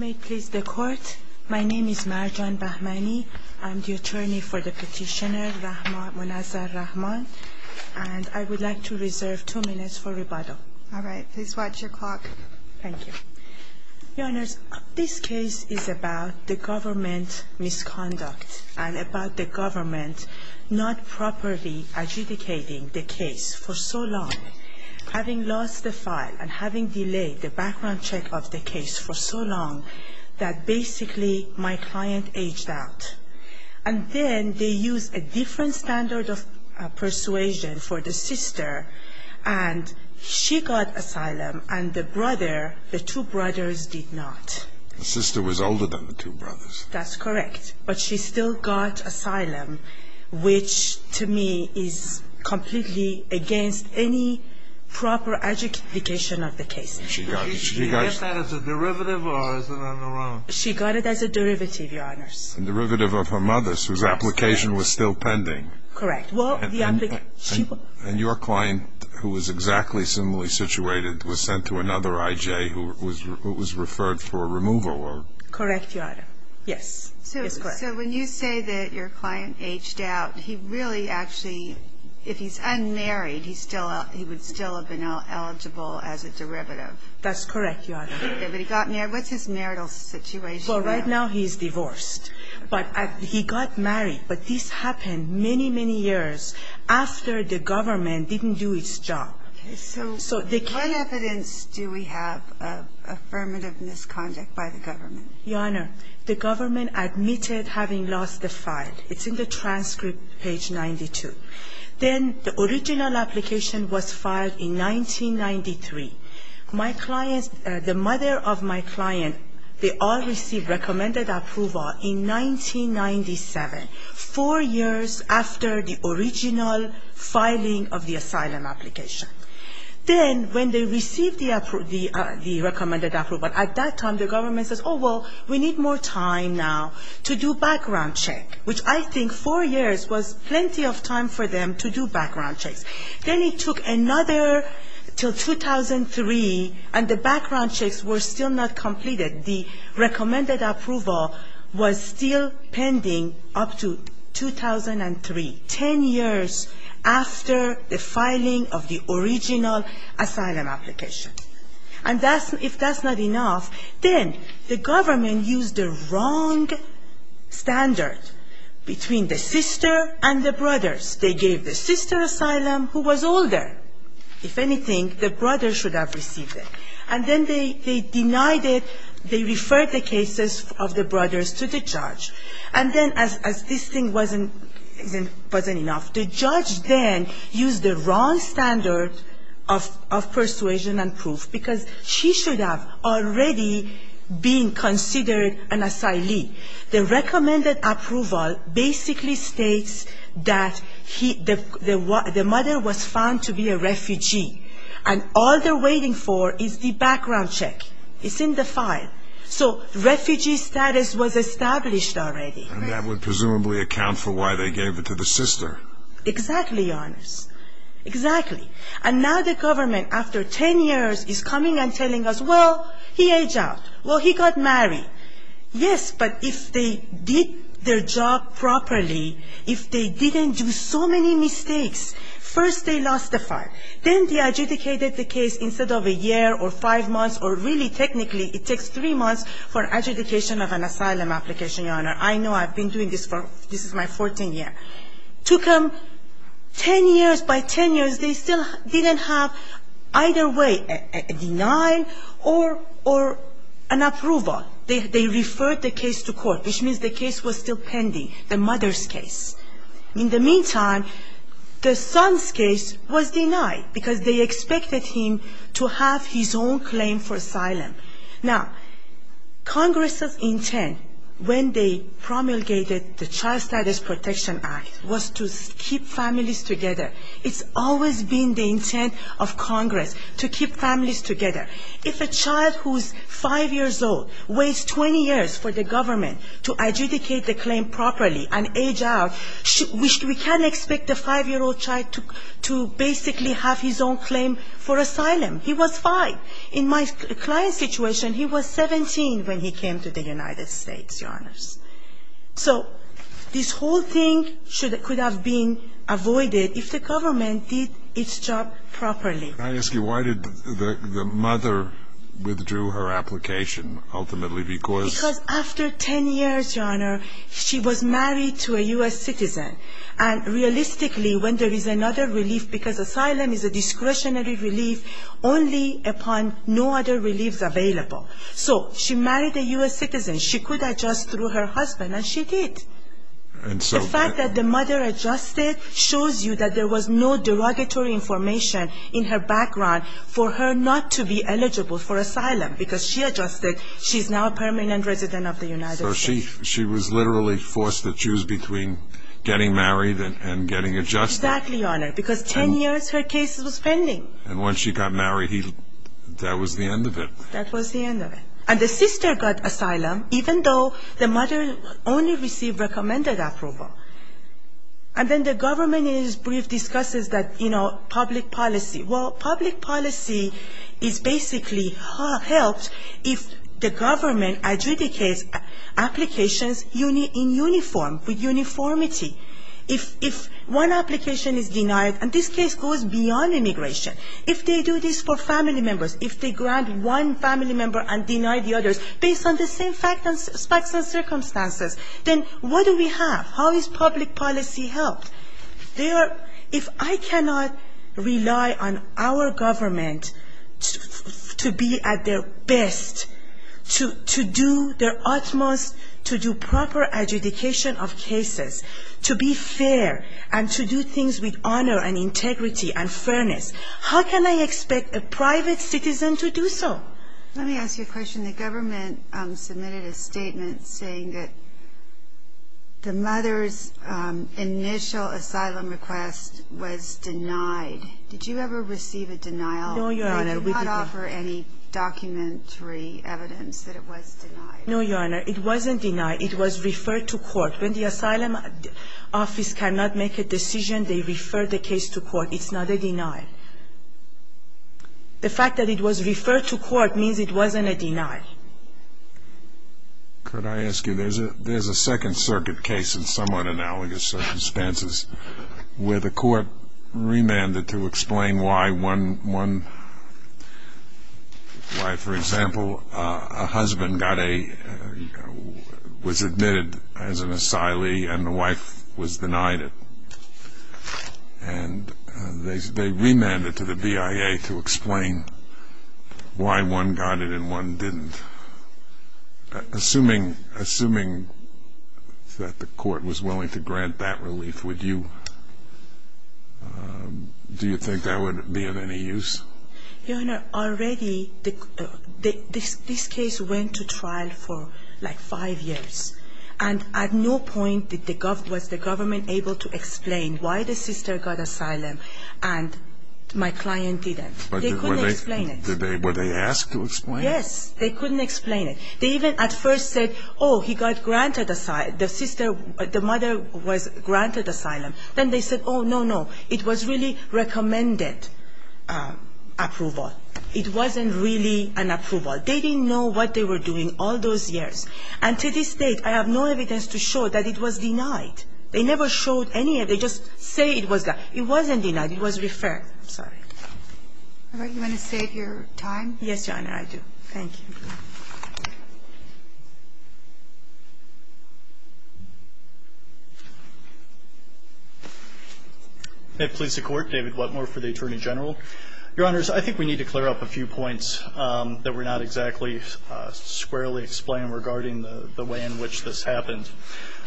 May it please the court. My name is Marjan Bahmani. I'm the attorney for the petitioner Munazza Rahman, and I would like to reserve two minutes for rebuttal. All right. Please watch your clock. Thank you. Your Honor, this case is about the government misconduct and about the government not properly adjudicating the case for so long. Having lost the file and having delayed the background check of the case for so long that basically my client aged out. And then they used a different standard of persuasion for the sister, and she got asylum and the brother, the two brothers did not. The sister was older than the two brothers. That's correct. But she still got asylum, which to me is completely against any proper adjudication of the case. Did she get that as a derivative or is it on her own? She got it as a derivative, Your Honor. A derivative of her mother's, whose application was still pending. Correct. And your client, who was exactly similarly situated, was sent to another I.J. who was referred for removal. Correct, Your Honor. Yes. So when you say that your client aged out, he really actually, if he's unmarried, he would still have been eligible as a derivative. That's correct, Your Honor. But he got married. What's his marital situation now? Well, right now he's divorced. But he got married. But this happened many, many years after the government didn't do its job. Okay. So what evidence do we have of affirmative misconduct by the government? Your Honor, the government admitted having lost the file. It's in the transcript, page 92. Then the original application was filed in 1993. My clients, the mother of my client, they all received recommended approval in 1997, four years after the original filing of the asylum application. Then when they received the recommended approval, at that time the government says, oh, well, we need more time now to do background check, which I think four years was plenty of time for them to do background checks. Then it took another until 2003, and the background checks were still not completed. The recommended approval was still pending up to 2003, ten years after the filing of the original asylum application. And if that's not enough, then the government used the wrong standard between the sister and the brothers. They gave the sister asylum who was older. If anything, the brother should have received it. And then they denied it. They referred the cases of the brothers to the judge. And then as this thing wasn't enough, the judge then used the wrong standard of persuasion and proof, because she should have already been considered an asylee. The recommended approval basically states that the mother was found to be a refugee. And all they're waiting for is the background check. It's in the file. So refugee status was established already. And that would presumably account for why they gave it to the sister. Exactly, Your Honors. Exactly. And now the government, after ten years, is coming and telling us, well, he aged out. Well, he got married. Yes, but if they did their job properly, if they didn't do so many mistakes, first they lost the file. Then they adjudicated the case instead of a year or five months or really technically it takes three months for adjudication of an asylum application, Your Honor. I know. I've been doing this for this is my 14th year. Took them ten years. By ten years, they still didn't have either way a denial or an approval. And they referred the case to court, which means the case was still pending, the mother's case. In the meantime, the son's case was denied, because they expected him to have his own claim for asylum. Now, Congress's intent when they promulgated the Child Status Protection Act was to keep families together. It's always been the intent of Congress to keep families together. If a child who's five years old waits 20 years for the government to adjudicate the claim properly and age out, we can't expect a five-year-old child to basically have his own claim for asylum. He was five. In my client's situation, he was 17 when he came to the United States, Your Honors. So this whole thing could have been avoided if the government did its job properly. Can I ask you, why did the mother withdrew her application, ultimately? Because Because after ten years, Your Honor, she was married to a U.S. citizen. And realistically, when there is another relief, because asylum is a discretionary relief, only upon no other reliefs available. So she married a U.S. citizen. She could adjust through her husband, and she did. The fact that the mother adjusted shows you that there was no derogatory information in her background for her not to be eligible for asylum, because she adjusted. She's now a permanent resident of the United States. So she was literally forced to choose between getting married and getting adjusted. Exactly, Your Honor, because ten years her case was pending. And once she got married, that was the end of it. That was the end of it. And the sister got asylum, even though the mother only received recommended approval. And then the government in its brief discusses that, you know, public policy. Well, public policy is basically helped if the government adjudicates applications in uniform, with uniformity. If one application is denied, and this case goes beyond immigration, if they do this for family members, if they grant one family member and deny the others, based on the same facts and circumstances, then what do we have? How is public policy helped? If I cannot rely on our government to be at their best, to do their utmost, to do proper adjudication of cases, to be at their best, to be at their best, to be at their best, to be at their best, to be at their best, to be at their best, to be at their best. To be fair and to do things with honor and integrity and fairness. How can I expect a private citizen to do so? Let me ask you a question. The government submitted a statement saying that the mother's initial asylum request was denied. Did you ever receive a denial? No, Your Honor. The fact that the office cannot make a decision, they refer the case to court. It's not a denial. The fact that it was referred to court means it wasn't a denial. Could I ask you, there's a Second Circuit case in somewhat analogous circumstances, where the court remanded to explain why one, why, for example, a husband got a, was admitted as an asylee, and the wife was denied. And they remanded to the BIA to explain why one got it and one didn't. Assuming that the court was willing to grant that relief, would you, do you think that would be of any use? Your Honor, already, this case went to trial for like five years. And at no point was the government able to explain why the sister got asylum and my client didn't. They couldn't explain it. Were they asked to explain it? Yes, they couldn't explain it. They even at first said, oh, he got granted asylum, the sister, the mother was granted asylum. Then they said, oh, no, no, it was really recommended. It wasn't really an approval. They didn't know what they were doing all those years. And to this date, I have no evidence to show that it was denied. They never showed any. They just say it was denied. It wasn't denied. It was referred. I'm sorry. All right. You want to save your time? Yes, Your Honor, I do. Thank you. If it pleases the Court, David Whatmore for the Attorney General. Your Honors, I think we need to clear up a few points that were not exactly squarely explained regarding the way in which this happened.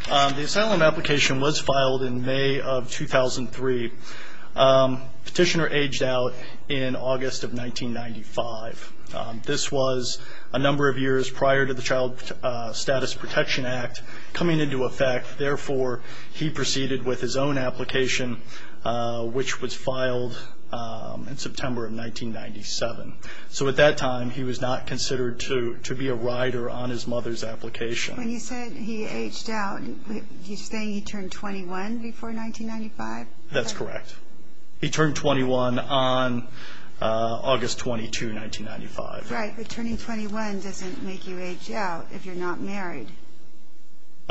The asylum application was filed in May of 2003. Petitioner aged out in August of 1995. This was a number of years prior to the Child Status Protection Act coming into effect. Therefore, he proceeded with his own application, which was filed in September of 1997. So at that time, he was not considered to be a rider on his mother's application. When you said he aged out, you're saying he turned 21 before 1995? That's correct. He turned 21 on August 22, 1995. Right. But turning 21 doesn't make you age out if you're not married.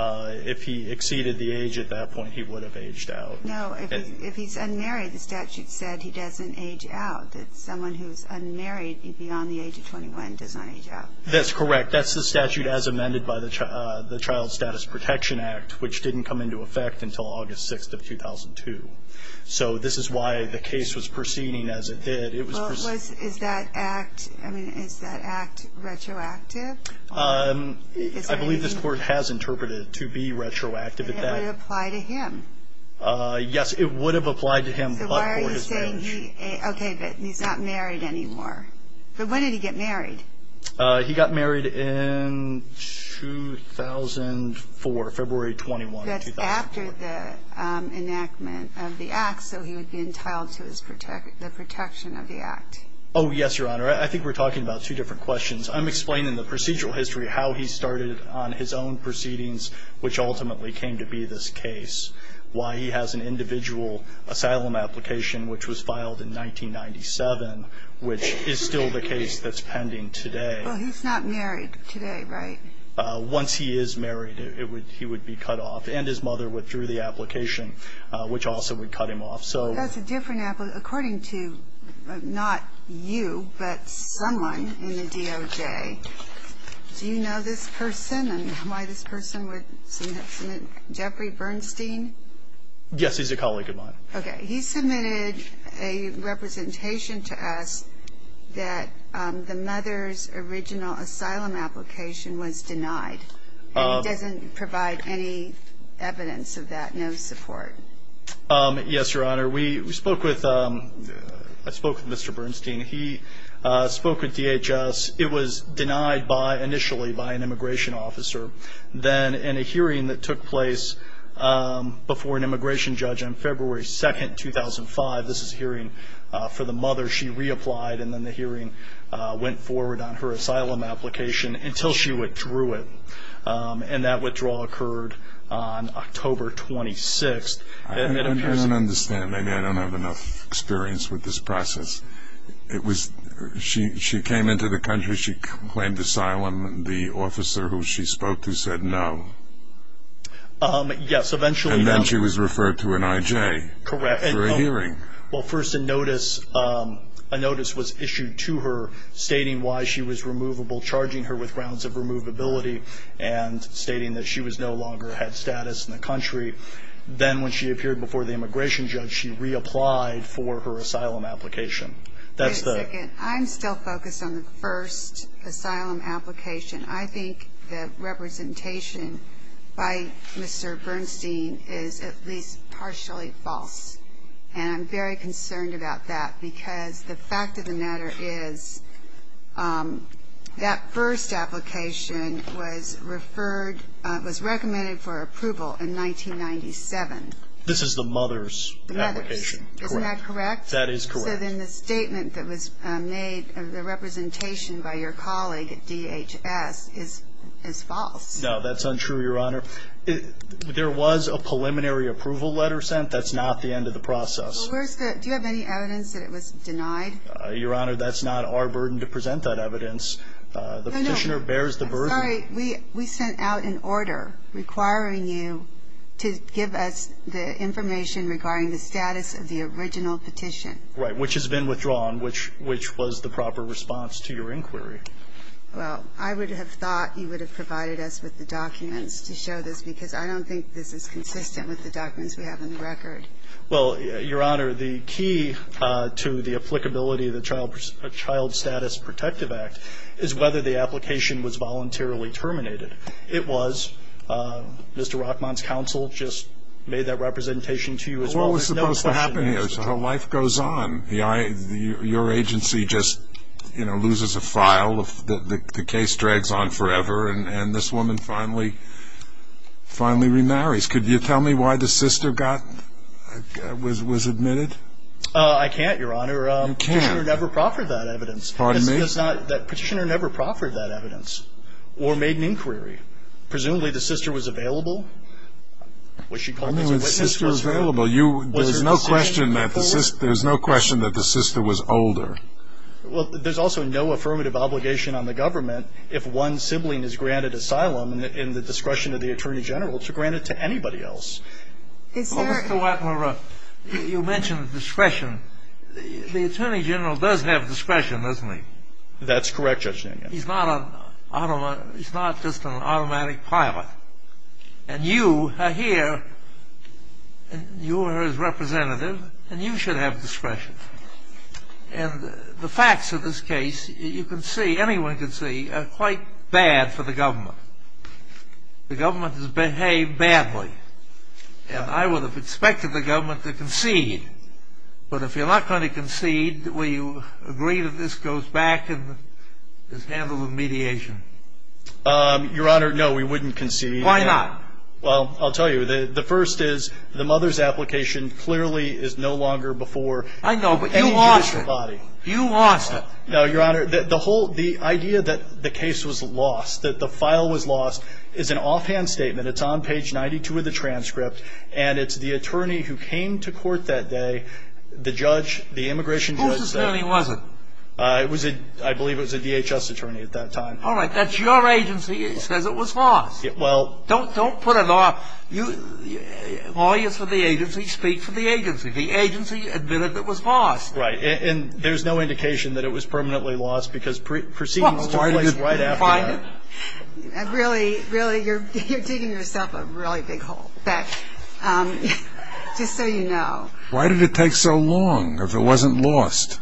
If he exceeded the age at that point, he would have aged out. No. If he's unmarried, the statute said he doesn't age out. That someone who's unmarried beyond the age of 21 does not age out. That's correct. That's the statute as amended by the Child Status Protection Act, which didn't come into effect until August 6, 2002. So this is why the case was proceeding as it did. Is that act retroactive? I believe this Court has interpreted it to be retroactive. And it would apply to him? Yes, it would have applied to him, but for his marriage. Okay, but he's not married anymore. But when did he get married? He got married in 2004, February 21, 2004. That's after the enactment of the act, so he would be entitled to the protection of the act. Oh, yes, Your Honor. I think we're talking about two different questions. I'm explaining the procedural history of how he started on his own proceedings, which ultimately came to be this case, why he has an individual asylum application which was filed in 1997, which is still the case that's pending today. Well, he's not married today, right? Once he is married, he would be cut off. And his mother withdrew the application, which also would cut him off. According to not you, but someone in the DOJ, do you know this person and why this person would submit? Jeffrey Bernstein? Yes, he's a colleague of mine. Okay. He submitted a representation to us that the mother's original asylum application was denied. And he doesn't provide any evidence of that, no support. Yes, Your Honor. I spoke with Mr. Bernstein. He spoke with DHS. It was denied initially by an immigration officer. Then in a hearing that took place before an immigration judge on February 2, 2005, this is a hearing for the mother. So she reapplied and then the hearing went forward on her asylum application until she withdrew it. And that withdrawal occurred on October 26. I don't understand. Maybe I don't have enough experience with this process. She came into the country. She claimed asylum. The officer who she spoke to said no. Yes, eventually. And then she was referred to an IJ for a hearing. Well, first a notice was issued to her stating why she was removable, charging her with grounds of removability, and stating that she no longer had status in the country. Then when she appeared before the immigration judge, she reapplied for her asylum application. That's the ---- Wait a second. I'm still focused on the first asylum application. I think the representation by Mr. Bernstein is at least partially false. And I'm very concerned about that because the fact of the matter is that first application was referred was recommended for approval in 1997. This is the mother's application. The mother's. Isn't that correct? That is correct. So then the statement that was made of the representation by your colleague at DHS is false. No, that's untrue, Your Honor. There was a preliminary approval letter sent. That's not the end of the process. Well, where's the ---- Do you have any evidence that it was denied? Your Honor, that's not our burden to present that evidence. No, no. The petitioner bears the burden. I'm sorry. We sent out an order requiring you to give us the information regarding the status of the original petition. Right, which has been withdrawn, which was the proper response to your inquiry. Well, I would have thought you would have provided us with the documents to show this because I don't think this is consistent with the documents we have on the record. Well, Your Honor, the key to the applicability of the Child Status Protective Act is whether the application was voluntarily terminated. It was. Mr. Rockmont's counsel just made that representation to you as well. Well, it was supposed to happen. So life goes on. Your agency just, you know, loses a file. The case drags on forever. And this woman finally remarries. Could you tell me why the sister was admitted? I can't, Your Honor. You can't. The petitioner never proffered that evidence. Pardon me? The petitioner never proffered that evidence or made an inquiry. Presumably the sister was available. I mean, was the sister available? There's no question that the sister was older. Well, there's also no affirmative obligation on the government if one sibling is granted asylum in the discretion of the Attorney General to grant it to anybody else. Well, Mr. Weckler, you mentioned discretion. The Attorney General does have discretion, doesn't he? That's correct, Judge Ningen. He's not just an automatic pilot. And you are here, and you are his representative, and you should have discretion. And the facts of this case, you can see, anyone can see, are quite bad for the government. The government has behaved badly. And I would have expected the government to concede. But if you're not going to concede, will you agree that this goes back and is handled with mediation? Your Honor, no, we wouldn't concede. Why not? Well, I'll tell you. The first is the mother's application clearly is no longer before. I know, but you lost it. Any judicial body. You lost it. No, Your Honor. The whole idea that the case was lost, that the file was lost, is an offhand statement. It's on page 92 of the transcript. And it's the attorney who came to court that day, the judge, the immigration judge. Whose attorney was it? I believe it was a DHS attorney at that time. All right. That's your agency. It says it was lost. Well. Don't put it off. Lawyers for the agency speak for the agency. The agency admitted that it was lost. Right. And there's no indication that it was permanently lost because proceedings took place right after that. Really, really, you're digging yourself a really big hole. Just so you know. Why did it take so long if it wasn't lost?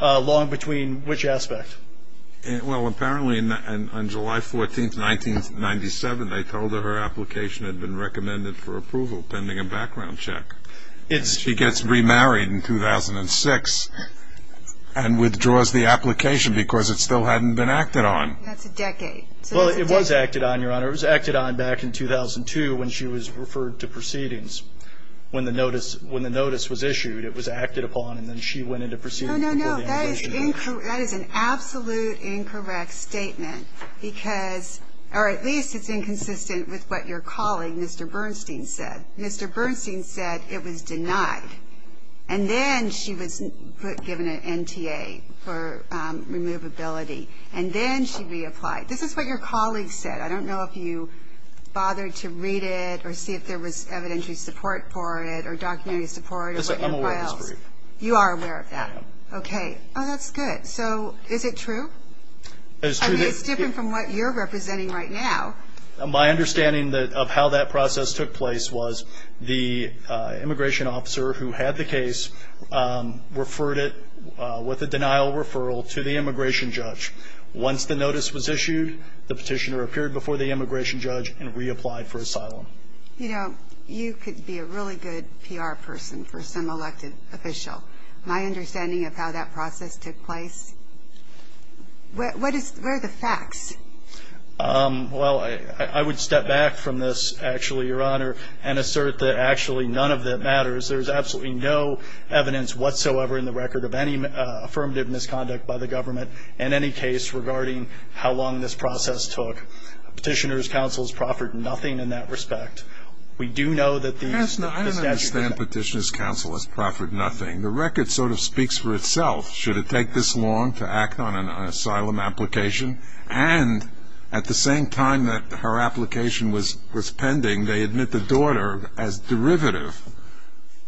Long between which aspect? Well, apparently on July 14, 1997, they told her her application had been recommended for approval pending a background check. She gets remarried in 2006 and withdraws the application because it still hadn't been acted on. That's a decade. Well, it was acted on, Your Honor. It was acted on back in 2002 when she was referred to proceedings. When the notice was issued, it was acted upon, and then she went into proceedings. No, no, no. That is an absolute incorrect statement because, or at least it's inconsistent with what your colleague, Mr. Bernstein, said. Mr. Bernstein said it was denied, and then she was given an NTA for removability, and then she reapplied. This is what your colleague said. I don't know if you bothered to read it or see if there was evidentiary support for it or documentary support. I'm aware of this brief. You are aware of that. I am. Okay. Oh, that's good. So is it true? It is true. I mean, it's different from what you're representing right now. My understanding of how that process took place was the immigration officer who had the case referred it with a denial referral to the immigration judge. Once the notice was issued, the petitioner appeared before the immigration judge and reapplied for asylum. You know, you could be a really good PR person for some elected official. My understanding of how that process took place, where are the facts? Well, I would step back from this, actually, Your Honor, and assert that actually none of that matters. There's absolutely no evidence whatsoever in the record of any affirmative misconduct by the government in any case regarding how long this process took. Petitioners' counsels proffered nothing in that respect. We do know that these statutes have been ---- The record sort of speaks for itself. Should it take this long to act on an asylum application? And at the same time that her application was pending, they admit the daughter as derivative,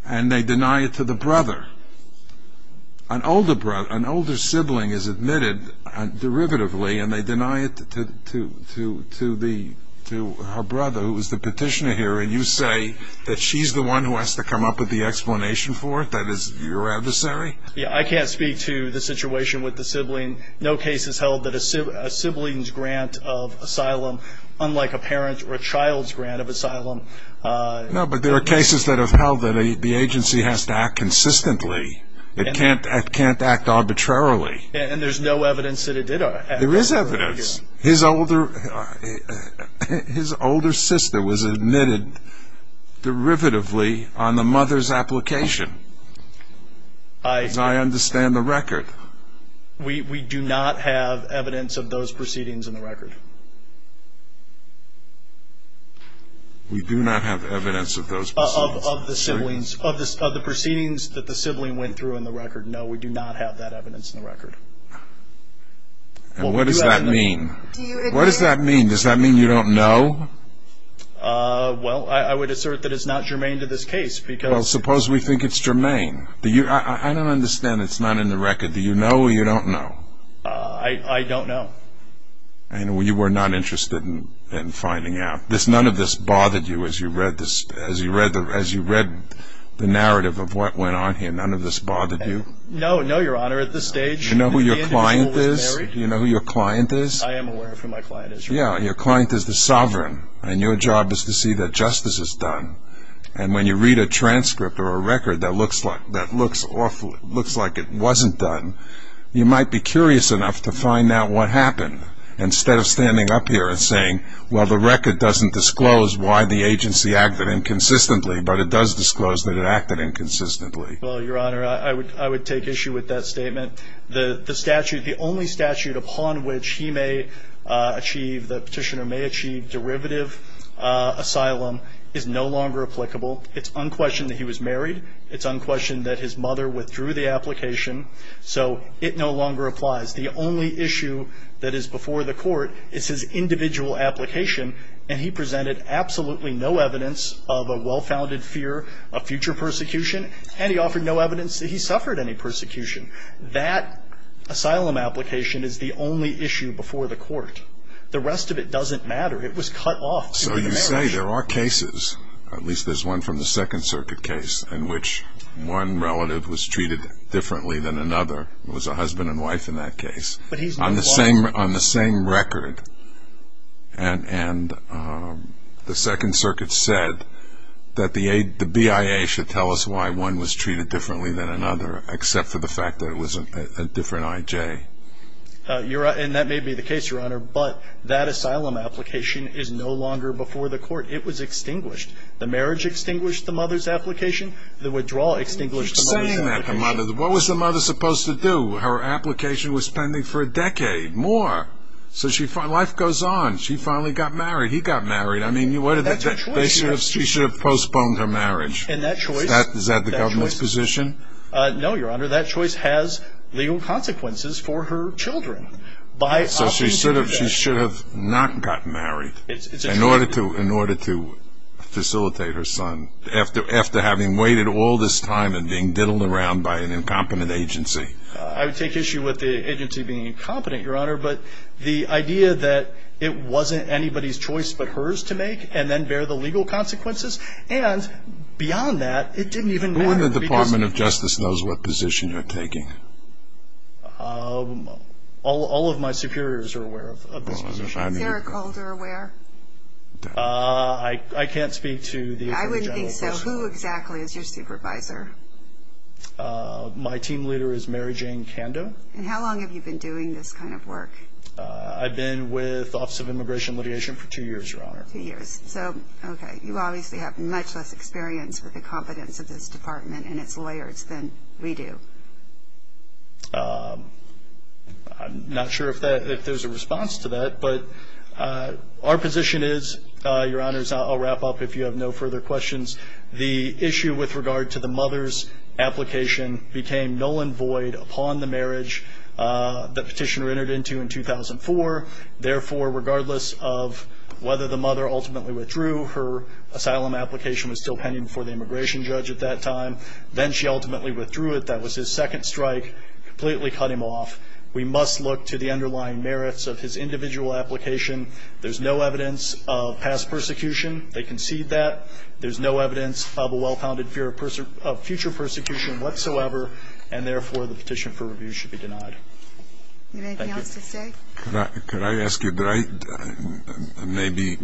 and they deny it to the brother. An older sibling is admitted derivatively, and they deny it to her brother, who is the petitioner here, and you say that she's the one who has to come up with the explanation for it, that is your adversary? Yeah, I can't speak to the situation with the sibling. No case has held that a sibling's grant of asylum, unlike a parent or a child's grant of asylum ---- No, but there are cases that have held that the agency has to act consistently. It can't act arbitrarily. And there's no evidence that it did act arbitrarily. There is evidence. His older sister was admitted derivatively on the mother's application, as I understand the record. We do not have evidence of those proceedings in the record. We do not have evidence of those proceedings. Of the siblings, of the proceedings that the sibling went through in the record, no, we do not have that evidence in the record. And what does that mean? What does that mean? Does that mean you don't know? Well, I would assert that it's not germane to this case, because ---- Well, suppose we think it's germane. I don't understand that it's not in the record. Do you know or you don't know? I don't know. And you were not interested in finding out. None of this bothered you as you read the narrative of what went on here? None of this bothered you? No, no, Your Honor. At this stage, the individual was married. Do you know who your client is? I am aware of who my client is, Your Honor. Yeah, your client is the sovereign, and your job is to see that justice is done. And when you read a transcript or a record that looks awful, looks like it wasn't done, you might be curious enough to find out what happened, instead of standing up here and saying, well, the record doesn't disclose why the agency acted inconsistently, but it does disclose that it acted inconsistently. Well, Your Honor, I would take issue with that statement. The statute, the only statute upon which he may achieve, the petitioner may achieve, derivative asylum is no longer applicable. It's unquestioned that he was married. It's unquestioned that his mother withdrew the application, so it no longer applies. The only issue that is before the court is his individual application, and he presented absolutely no evidence of a well-founded fear of future persecution, and he offered no evidence that he suffered any persecution. That asylum application is the only issue before the court. The rest of it doesn't matter. It was cut off during the marriage. So you say there are cases, at least there's one from the Second Circuit case, in which one relative was treated differently than another. It was a husband and wife in that case. But he's not qualified. And the Second Circuit said that the BIA should tell us why one was treated differently than another, except for the fact that it was a different I.J. And that may be the case, Your Honor, but that asylum application is no longer before the court. It was extinguished. The marriage extinguished the mother's application. The withdrawal extinguished the mother's application. What was the mother supposed to do? Her application was pending for a decade, more. So life goes on. She finally got married. He got married. She should have postponed her marriage. Is that the government's position? No, Your Honor, that choice has legal consequences for her children. So she should have not gotten married in order to facilitate her son, after having waited all this time and being diddled around by an incompetent agency. I would take issue with the agency being incompetent, Your Honor, but the idea that it wasn't anybody's choice but hers to make and then bear the legal consequences, and beyond that, it didn't even matter. Who in the Department of Justice knows what position you're taking? All of my superiors are aware of this position. Is Eric Holder aware? I can't speak to the Attorney General. I wouldn't think so. Who exactly is your supervisor? My team leader is Mary Jane Kando. And how long have you been doing this kind of work? I've been with the Office of Immigration and Litigation for two years, Your Honor. Two years. So, okay, you obviously have much less experience with the competence of this department and its lawyers than we do. I'm not sure if there's a response to that, but our position is, Your Honors, I'll wrap up if you have no further questions. The issue with regard to the mother's application became null and void upon the marriage that Petitioner entered into in 2004. Therefore, regardless of whether the mother ultimately withdrew, her asylum application was still pending before the immigration judge at that time. Then she ultimately withdrew it. That was his second strike, completely cut him off. We must look to the underlying merits of his individual application. There's no evidence of past persecution. They concede that. There's no evidence of a well-founded fear of future persecution whatsoever, and therefore the petition for review should be denied. Do you have anything else to say? Could I ask you, maybe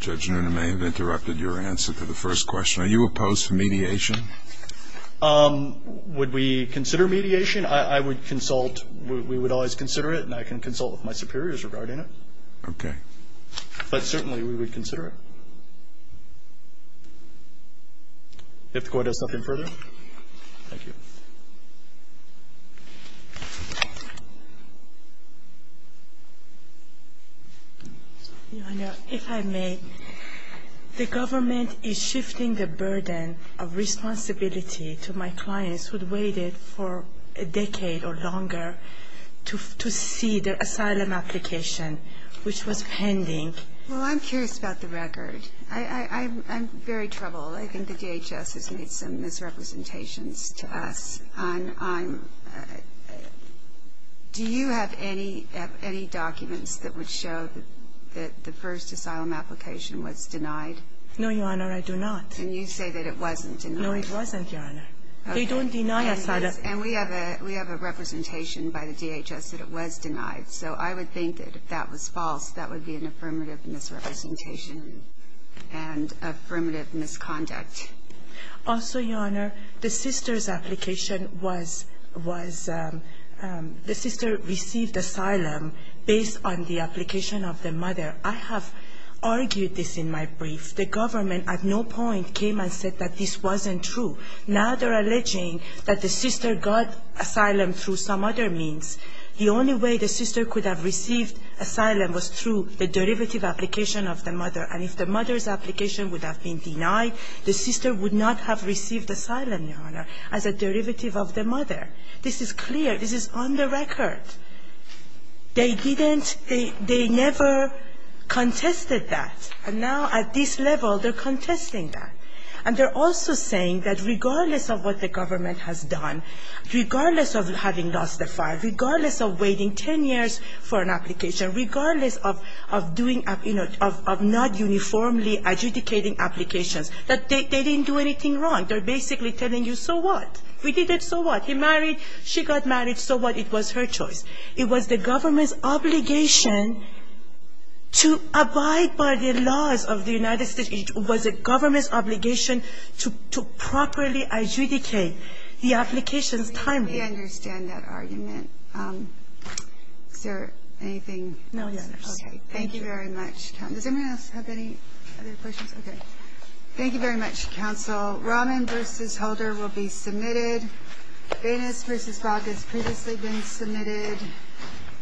Judge Noonan may have interrupted your answer to the first question. Are you opposed to mediation? Would we consider mediation? I would consult. We would always consider it, and I can consult with my superiors regarding it. Okay. But certainly we would consider it. Do you have to go into something further? Thank you. Your Honor, if I may, the government is shifting the burden of responsibility to my clients who waited for a decade or longer to see their asylum application, which was pending. Well, I'm curious about the record. I'm very troubled. I think the DHS has made some misrepresentations to us. Do you have any documents that would show that the first asylum application was denied? No, Your Honor, I do not. And you say that it wasn't denied. No, it wasn't, Your Honor. They don't deny asylum. And we have a representation by the DHS that it was denied. So I would think that if that was false, that would be an affirmative misrepresentation and affirmative misconduct. Also, Your Honor, the sister's application was the sister received asylum based on the application of the mother. I have argued this in my brief. The government at no point came and said that this wasn't true. Now they're alleging that the sister got asylum through some other means. The only way the sister could have received asylum was through the derivative application of the mother. And if the mother's application would have been denied, the sister would not have received asylum, Your Honor, as a derivative of the mother. This is clear. This is on the record. They didn't – they never contested that. And now at this level, they're contesting that. And they're also saying that regardless of what the government has done, regardless of having lost the file, regardless of waiting ten years for an application, regardless of doing – of not uniformly adjudicating applications, that they didn't do anything wrong. They're basically telling you, so what? We did it, so what? He married, she got married, so what? It was her choice. It was the government's obligation to abide by the laws of the United States. It was the government's obligation to properly adjudicate the application's We understand that argument. Is there anything else? No, Your Honor. Okay. Thank you very much. Does anyone else have any other questions? Okay. Thank you very much, counsel. Rahman v. Holder will be submitted. Banas v. Bogg has previously been submitted.